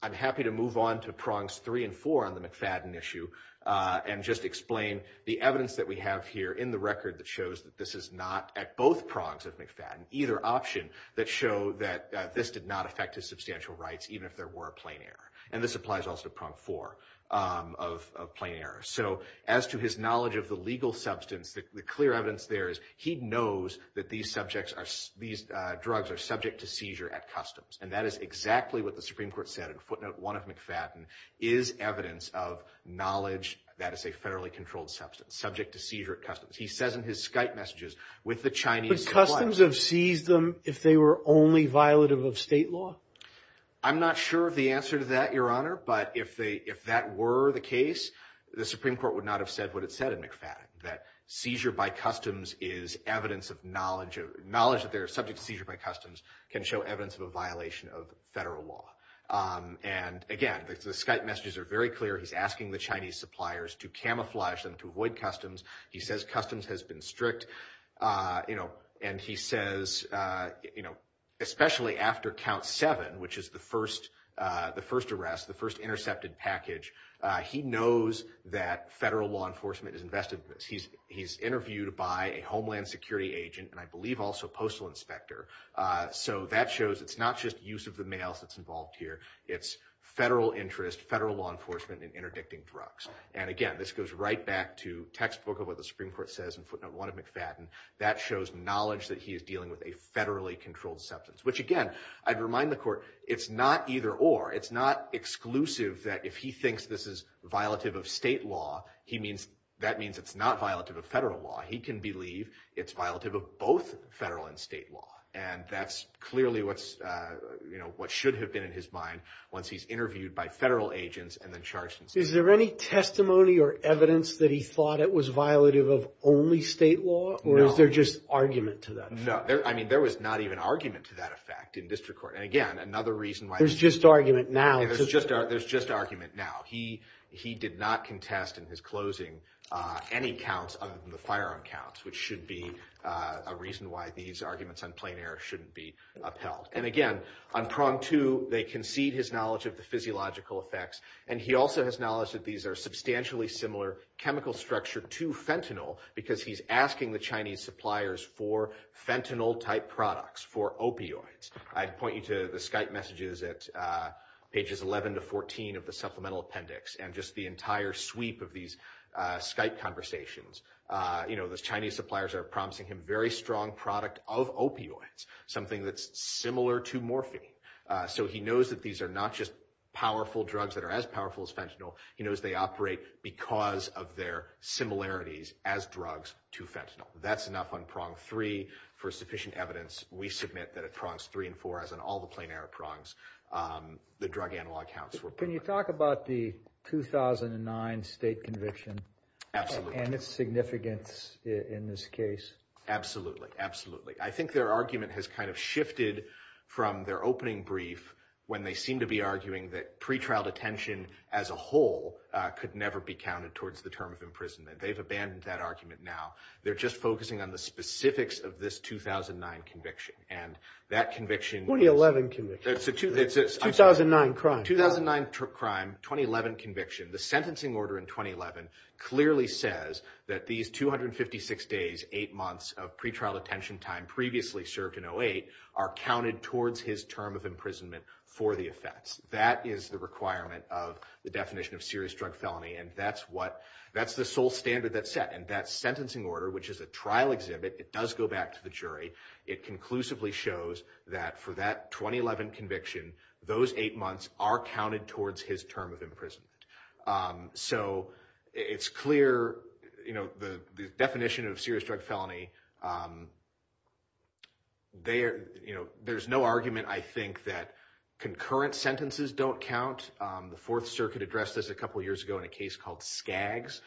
I'm happy to move on to prongs three and four on the McFadden issue and just explain the evidence that we have here in the record that shows that this is not, at both prongs of McFadden, either option that show that this did not affect his substantial rights, even if there were a plain error. And this applies also to prong four of plain error. So as to his knowledge of the legal substance, the clear evidence there is he knows that these subjects are, these drugs are subject to seizure at customs. And that is exactly what the Supreme Court said in footnote one of McFadden, is evidence of knowledge that is a federally controlled substance subject to seizure at customs. He says in his Skype messages with the Chinese. But customs have seized them if they were only violative of state law? I'm not sure of the answer to that, Your Honor. But if that were the case, the Supreme Court would not have said what it said in McFadden, that seizure by customs is evidence of knowledge, knowledge that they're subject to seizure by customs can show evidence of a violation of federal law. And again, the Skype messages are very clear. He's asking the Chinese suppliers to camouflage them to avoid customs. He says customs has been strict. You know, and he says, you know, especially after count seven, which is the first the first arrest, the first intercepted package, he knows that federal law enforcement is invested. He's he's interviewed by a homeland security agent and I believe also postal inspector. So that shows it's not just use of the mail that's involved here. It's federal interest, federal law enforcement in interdicting drugs. And again, this goes right back to textbook of what the Supreme Court says. And one of McFadden that shows knowledge that he is dealing with a federally controlled substance, which, again, I'd remind the court, it's not either or. It's not exclusive that if he thinks this is violative of state law, he means that means it's not violative of federal law. He can believe it's violative of both federal and state law. And that's clearly what's you know, what should have been in his mind once he's interviewed by federal agents and then charged. Is there any testimony or evidence that he thought it was violative of only state law or is there just argument to that? No, I mean, there was not even argument to that effect in district court. And again, another reason why there's just argument now is just there's just argument now. He he did not contest in his closing any counts of the firearm counts, which should be a reason why these arguments on plain air shouldn't be upheld. And again, on prong to they concede his knowledge of the physiological effects. And he also has knowledge that these are substantially similar chemical structure to fentanyl, because he's asking the Chinese suppliers for fentanyl type products for opioids. I'd point you to the Skype messages at pages 11 to 14 of the supplemental appendix and just the entire sweep of these Skype conversations. You know, the Chinese suppliers are promising him very strong product of opioids, something that's similar to morphine. So he knows that these are not just powerful drugs that are as powerful as fentanyl. He knows they operate because of their similarities as drugs to fentanyl. That's enough on prong three for sufficient evidence. We submit that it prongs three and four as on all the plain air prongs. The drug analog counts. Can you talk about the 2009 state conviction and its significance in this case? Absolutely. Absolutely. I think their argument has kind of shifted from their opening brief when they seem to be arguing that pretrial detention as a whole could never be counted towards the term of imprisonment. They've abandoned that argument now. They're just focusing on the specifics of this 2009 conviction and that conviction. 2011 conviction. It's a 2009 crime. 2009 crime, 2011 conviction. The sentencing order in 2011 clearly says that these 256 days, eight months of pretrial detention time previously served in 08 are counted towards his term of imprisonment for the effects. That is the requirement of the definition of serious drug felony, and that's the sole standard that's set. And that sentencing order, which is a trial exhibit, it does go back to the jury. It conclusively shows that for that 2011 conviction, those eight months are counted towards his term of imprisonment. So it's clear the definition of serious drug felony. There's no argument, I think, that concurrent sentences don't count. The Fourth Circuit addressed this a couple years ago in a case called Skaggs,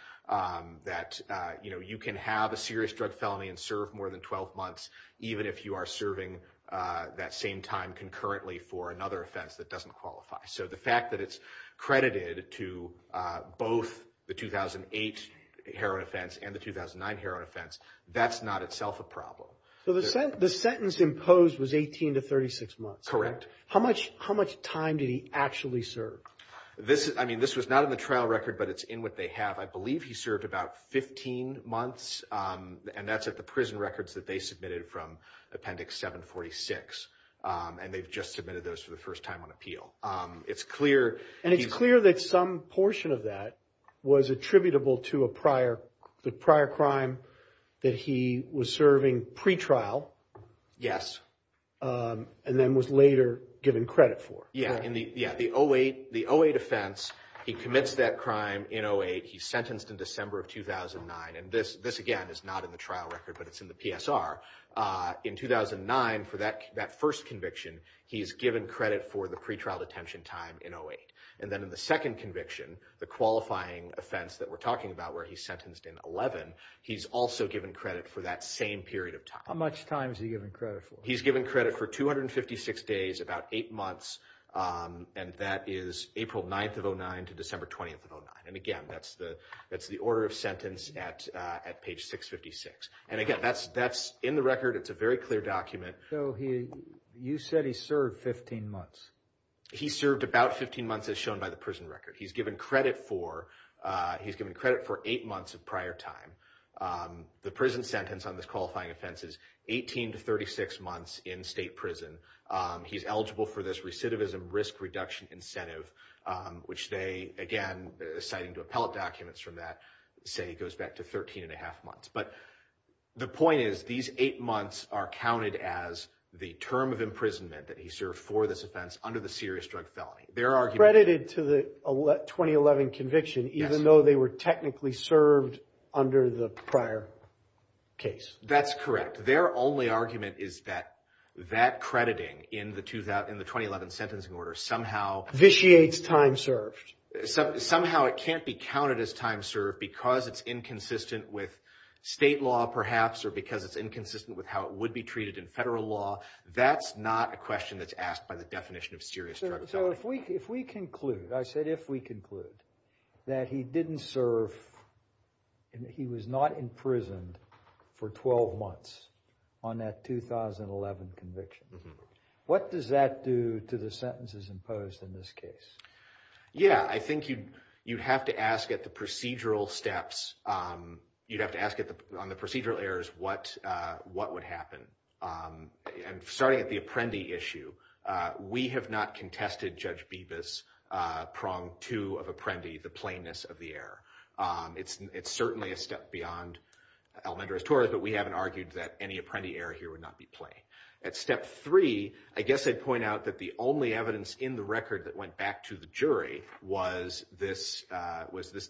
that you can have a serious drug felony and serve more than 12 months even if you are serving that same time concurrently for another offense that doesn't qualify. So the fact that it's credited to both the 2008 heroin offense and the 2009 heroin offense, that's not itself a problem. So the sentence imposed was 18 to 36 months. Correct. How much time did he actually serve? I mean, this was not in the trial record, but it's in what they have. I believe he served about 15 months, and that's at the prison records that they submitted from Appendix 746, and they've just submitted those for the first time on appeal. And it's clear that some portion of that was attributable to the prior crime that he was serving pretrial. Yes. And then was later given credit for. Yeah. The 08 offense, he commits that crime in 08. He's sentenced in December of 2009. And this, again, is not in the trial record, but it's in the PSR. In 2009, for that first conviction, he's given credit for the pretrial detention time in 08. And then in the second conviction, the qualifying offense that we're talking about where he's sentenced in 11, he's also given credit for that same period of time. How much time is he given credit for? He's given credit for 256 days, about eight months, and that is April 9th of 09 to December 20th of 09. And, again, that's the order of sentence at page 656. And, again, that's in the record. It's a very clear document. So you said he served 15 months. He served about 15 months as shown by the prison record. He's given credit for eight months of prior time. The prison sentence on this qualifying offense is 18 to 36 months in state prison. He's eligible for this recidivism risk reduction incentive, which they, again, citing to appellate documents from that, say goes back to 13 and a half months. But the point is these eight months are counted as the term of imprisonment that he served for this offense under the serious drug felony. They're credited to the 2011 conviction even though they were technically served under the prior case. That's correct. Their only argument is that that crediting in the 2011 sentencing order somehow. Vitiates time served. Somehow it can't be counted as time served because it's inconsistent with state law perhaps or because it's inconsistent with how it would be treated in federal law. That's not a question that's asked by the definition of serious drug felony. So if we conclude, I said if we conclude, that he didn't serve, he was not in prison for 12 months on that 2011 conviction, what does that do to the sentences imposed in this case? Yeah, I think you'd have to ask at the procedural steps. You'd have to ask on the procedural errors what would happen. Starting at the Apprendi issue, we have not contested Judge Bibas' prong two of Apprendi, the plainness of the error. It's certainly a step beyond Almendrez-Torres, but we haven't argued that any Apprendi error here would not be plain. At step three, I guess I'd point out that the only evidence in the record that went back to the jury was this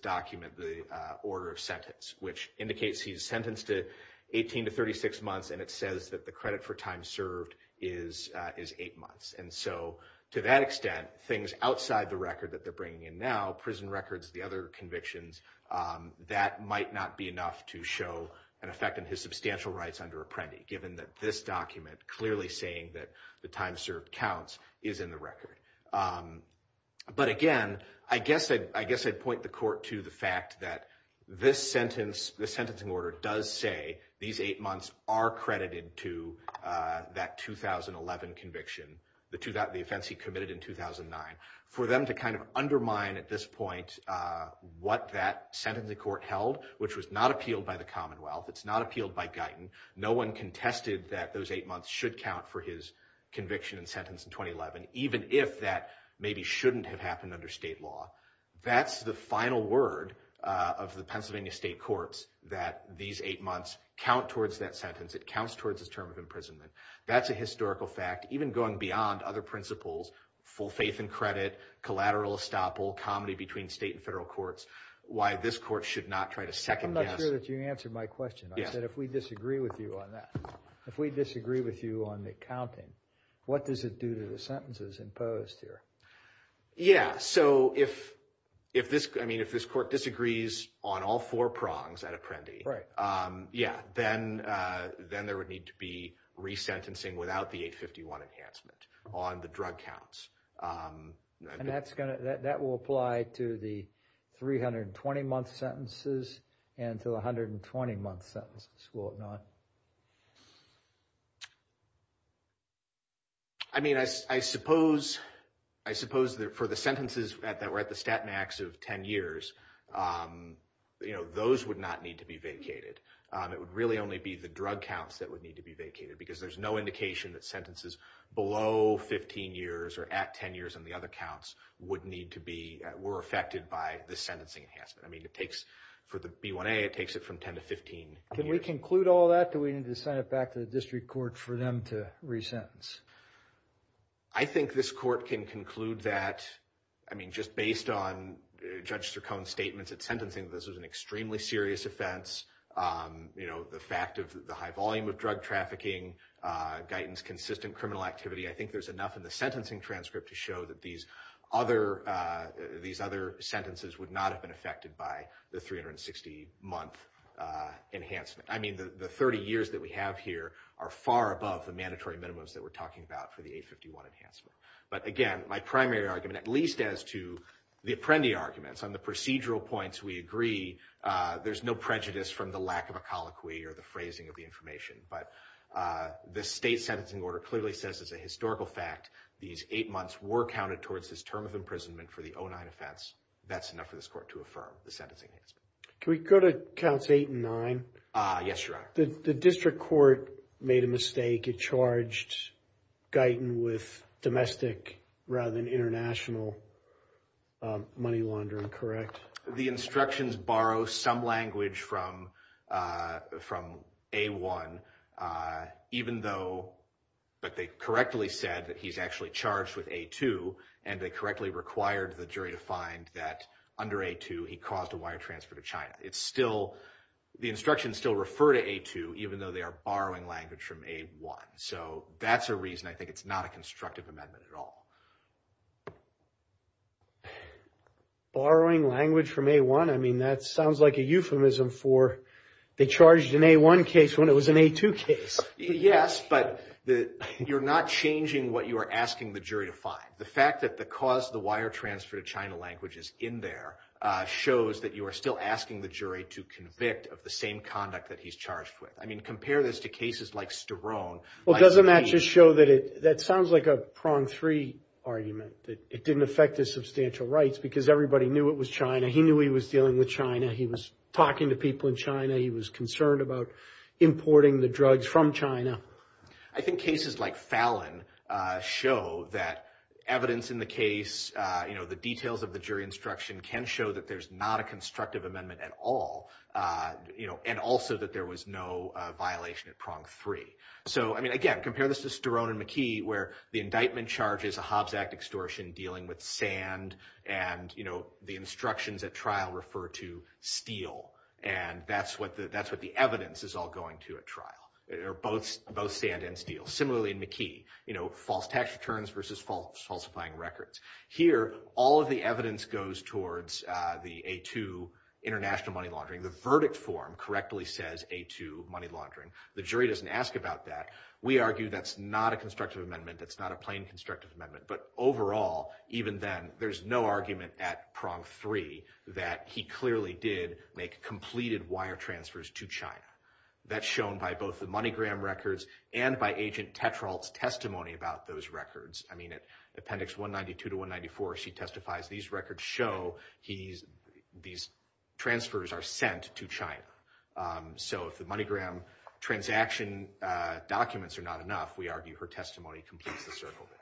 document, the order of sentence, which indicates he's sentenced to 18 to 36 months, and it says that the credit for time served is eight months. And so to that extent, things outside the record that they're bringing in now, prison records, the other convictions, that might not be enough to show an effect on his substantial rights under Apprendi, given that this document clearly saying that the time served counts is in the record. But again, I guess I'd point the court to the fact that this sentence, the sentencing order, does say these eight months are credited to that 2011 conviction, the offense he committed in 2009. For them to kind of undermine at this point what that sentencing court held, which was not appealed by the Commonwealth, it's not appealed by Guyton, no one contested that those eight months should count for his conviction and sentence in 2011, even if that maybe shouldn't have happened under state law. That's the final word of the Pennsylvania state courts, that these eight months count towards that sentence. It counts towards his term of imprisonment. That's a historical fact, even going beyond other principles, full faith and credit, collateral estoppel, comedy between state and federal courts, why this court should not try to second guess. I'm not sure that you answered my question. I said if we disagree with you on that, if we disagree with you on the counting, what does it do to the sentences imposed here? Yeah, so if this court disagrees on all four prongs at Apprendi, then there would need to be resentencing without the 851 enhancement on the drug counts. And that will apply to the 320-month sentences and to the 120-month sentences, will it not? I mean, I suppose that for the sentences that were at the stat max of 10 years, those would not need to be vacated. It would really only be the drug counts that would need to be vacated, because there's no indication that sentences below 15 years or at 10 years on the other counts would need to be, were affected by the sentencing enhancement. I mean, it takes, for the B1A, it takes it from 10 to 15 years. Can we conclude all that? Do we need to send it back to the district court for them to resentence? I think this court can conclude that, I mean, just based on Judge Strachan's statements at sentencing, this was an extremely serious offense. You know, the fact of the high volume of drug trafficking, Guyton's consistent criminal activity, I think there's enough in the sentencing transcript to show that these other sentences would not have been affected by the 360-month enhancement. I mean, the 30 years that we have here are far above the mandatory minimums that we're talking about for the 851 enhancement. But again, my primary argument, at least as to the Apprendi arguments, on the procedural points we agree, there's no prejudice from the lack of a colloquy or the phrasing of the information. But the state sentencing order clearly says as a historical fact, these eight months were counted towards this term of imprisonment for the 09 offense. That's enough for this court to affirm the sentencing enhancement. Can we go to counts eight and nine? Yes, Your Honor. The district court made a mistake. It charged Guyton with domestic rather than international money laundering, correct? The instructions borrow some language from A1, even though they correctly said that he's actually charged with A2, and they correctly required the jury to find that under A2 he caused a wire transfer to China. It's still, the instructions still refer to A2, even though they are borrowing language from A1. So that's a reason I think it's not a constructive amendment at all. Borrowing language from A1? I mean, that sounds like a euphemism for they charged an A1 case when it was an A2 case. Yes, but you're not changing what you are asking the jury to find. The fact that the cause of the wire transfer to China language is in there shows that you are still asking the jury to convict of the same conduct that he's charged with. I mean, compare this to cases like Sterone. Well, doesn't that just show that it, that sounds like a prong three argument, that it didn't affect his substantial rights because everybody knew it was China. He knew he was dealing with China. He was talking to people in China. He was concerned about importing the drugs from China. I think cases like Fallon show that evidence in the case, you know, the details of the jury instruction can show that there's not a constructive amendment at all, you know, and also that there was no violation of prong three. So, I mean, again, compare this to Sterone and McKee where the indictment charges a Hobbs Act extortion dealing with sand and, you know, the instructions at trial refer to steel, and that's what the evidence is all going to at trial. Both sand and steel. Similarly, in McKee, you know, false tax returns versus falsifying records. Here, all of the evidence goes towards the A2 international money laundering. The verdict form correctly says A2 money laundering. The jury doesn't ask about that. We argue that's not a constructive amendment. That's not a plain constructive amendment, but overall, even then, there's no argument at prong three that he clearly did make completed wire transfers to China. That's shown by both the MoneyGram records and by Agent Tetrault's testimony about those records. I mean, at appendix 192 to 194, she testifies these records show these transfers are sent to China. So if the MoneyGram transaction documents are not enough, we argue her testimony completes the circle there.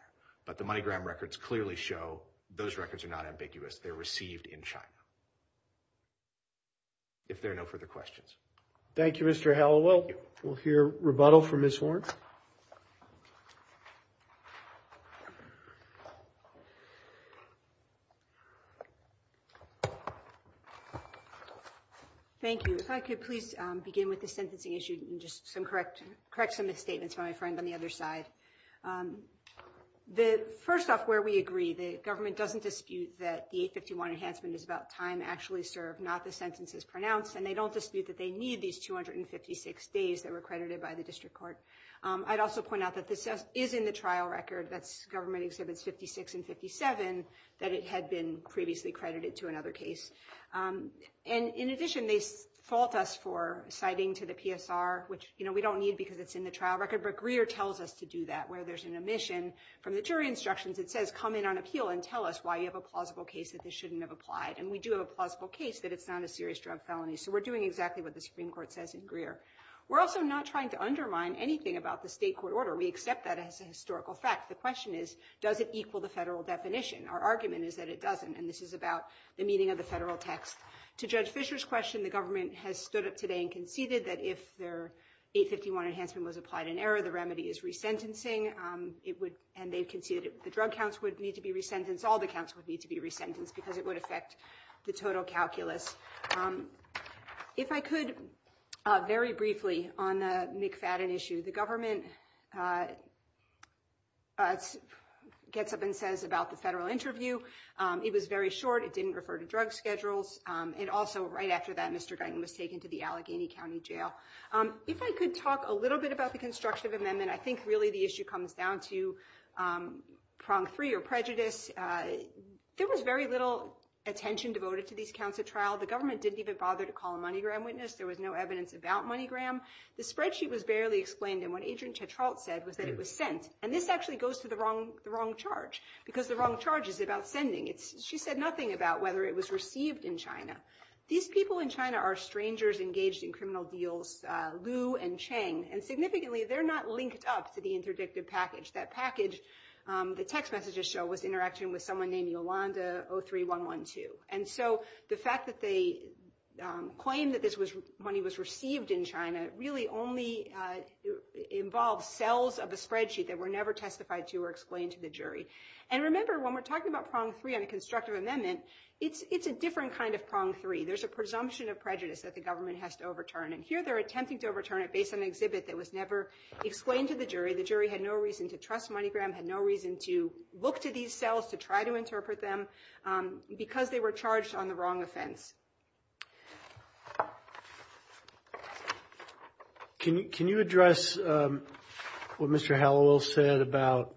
But the MoneyGram records clearly show those records are not ambiguous. They're received in China. If there are no further questions. Thank you, Mr. Hallowell. We'll hear rebuttal from Ms. Horne. Thank you. If I could please begin with the sentencing issue and just correct some misstatements from my friend on the other side. First off, where we agree, the government doesn't dispute that the 851 enhancement is about time actually served, not the sentences pronounced. And they don't dispute that they need these 256 days that were credited by the district court. I'd also point out that this is in the trial record. That's government exhibits 56 and 57, that it had been previously credited to another case. And in addition, they fault us for citing to the PSR, which we don't need because it's in the trial record. But Greer tells us to do that, where there's an omission from the jury instructions. It says, come in on appeal and tell us why you have a plausible case that this shouldn't have applied. And we do have a plausible case that it's not a serious drug felony. So we're doing exactly what the Supreme Court says in Greer. We're also not trying to undermine anything about the state court order. We accept that as a historical fact. The question is, does it equal the federal definition? Our argument is that it doesn't. And this is about the meaning of the federal text. To Judge Fisher's question, the government has stood up today and conceded that if their 851 enhancement was applied in error, the remedy is resentencing. It would. And they conceded the drug counts would need to be resentenced. All the counts would need to be resentenced because it would affect the total calculus. If I could, very briefly on the McFadden issue, the government gets up and says about the federal interview. It was very short. It didn't refer to drug schedules. And also right after that, Mr. Guyton was taken to the Allegheny County Jail. If I could talk a little bit about the construction of amendment, I think really the issue comes down to prong three or prejudice. There was very little attention devoted to these counts of trial. The government didn't even bother to call a MoneyGram witness. There was no evidence about MoneyGram. The spreadsheet was barely explained. And what Agent Tetrault said was that it was sent. And this actually goes to the wrong charge because the wrong charge is about sending. She said nothing about whether it was received in China. These people in China are strangers engaged in criminal deals, Lu and Chang. And significantly, they're not linked up to the interdictive package. That package, the text messages show, was interaction with someone named Yolanda03112. And so the fact that they claim that this money was received in China really only involves cells of a spreadsheet that were never testified to or explained to the jury. And remember, when we're talking about prong three on a constructive amendment, it's a different kind of prong three. There's a presumption of prejudice that the government has to overturn. And here they're attempting to overturn it based on an exhibit that was never explained to the jury. The jury had no reason to trust MoneyGram, had no reason to look to these cells to try to interpret them. Because they were charged on the wrong offense. Can you address what Mr. Hallowell said about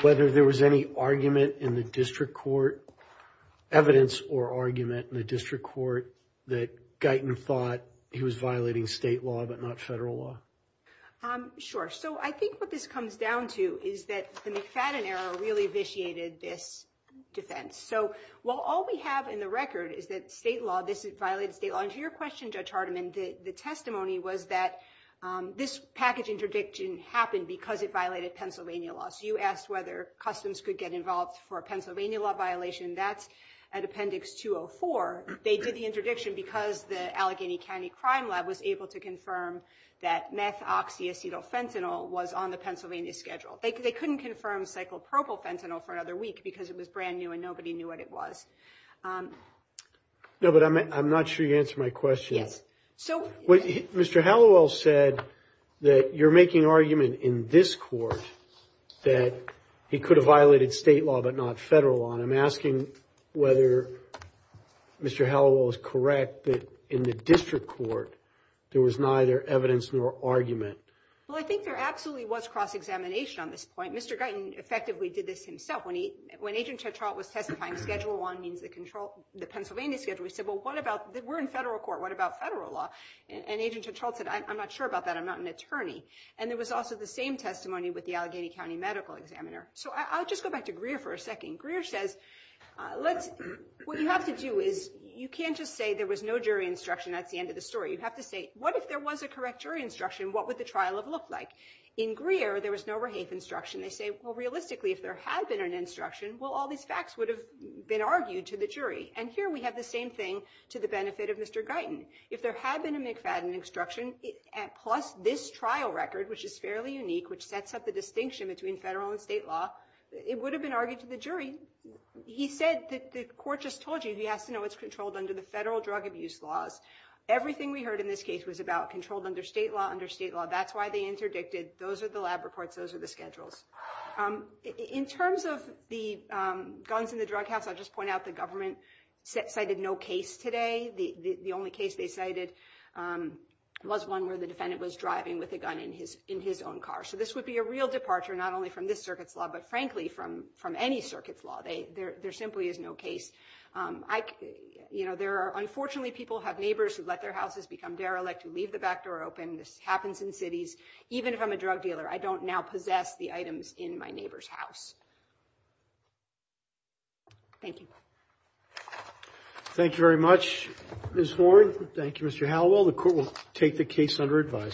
whether there was any argument in the district court, evidence or argument in the district court, that Guyton thought he was violating state law but not federal law? Sure. So I think what this comes down to is that the McFadden era really vitiated this defense. So while all we have in the record is that state law, this violated state law. And to your question, Judge Hardiman, the testimony was that this package interdiction happened because it violated Pennsylvania law. So you asked whether Customs could get involved for a Pennsylvania law violation. That's at Appendix 204. They did the interdiction because the Allegheny County Crime Lab was able to confirm that methoxyacetyl fentanyl was on the Pennsylvania schedule. They couldn't confirm cyclopropyl fentanyl for another week because it was brand new and nobody knew what it was. No, but I'm not sure you answered my question. Mr. Hallowell said that you're making argument in this court that he could have violated state law but not federal law. And I'm asking whether Mr. Hallowell is correct that in the district court, there was neither evidence nor argument. Well, I think there absolutely was cross-examination on this point. Mr. Guyton effectively did this himself. When Agent Tetrault was testifying, schedule one means the Pennsylvania schedule. We said, well, we're in federal court. What about federal law? And Agent Tetrault said, I'm not sure about that. I'm not an attorney. And there was also the same testimony with the Allegheny County medical examiner. So I'll just go back to Greer for a second. Greer says, what you have to do is you can't just say there was no jury instruction. That's the end of the story. You have to say, what if there was a correct jury instruction? What would the trial have looked like? In Greer, there was no Rehaith instruction. They say, well, realistically, if there had been an instruction, well, all these facts would have been argued to the jury. And here we have the same thing to the benefit of Mr. Guyton. If there had been a McFadden instruction, plus this trial record, which is fairly unique, which sets up the distinction between federal and state law, it would have been argued to the jury. He said that the court just told you he has to know it's controlled under the federal drug abuse laws. Everything we heard in this case was about controlled under state law, under state law. That's why they interdicted. Those are the lab reports. Those are the schedules. In terms of the guns in the drug house, I'll just point out the government cited no case today. The only case they cited was one where the defendant was driving with a gun in his own car. So this would be a real departure not only from this circuit's law, but, frankly, from any circuit's law. There simply is no case. You know, there are unfortunately people who have neighbors who let their houses become derelict, who leave the back door open. This happens in cities. Even if I'm a drug dealer, I don't now possess the items in my neighbor's house. Thank you. Thank you very much, Ms. Horn. Thank you, Mr. Halliwell. The court will take the case under advisement.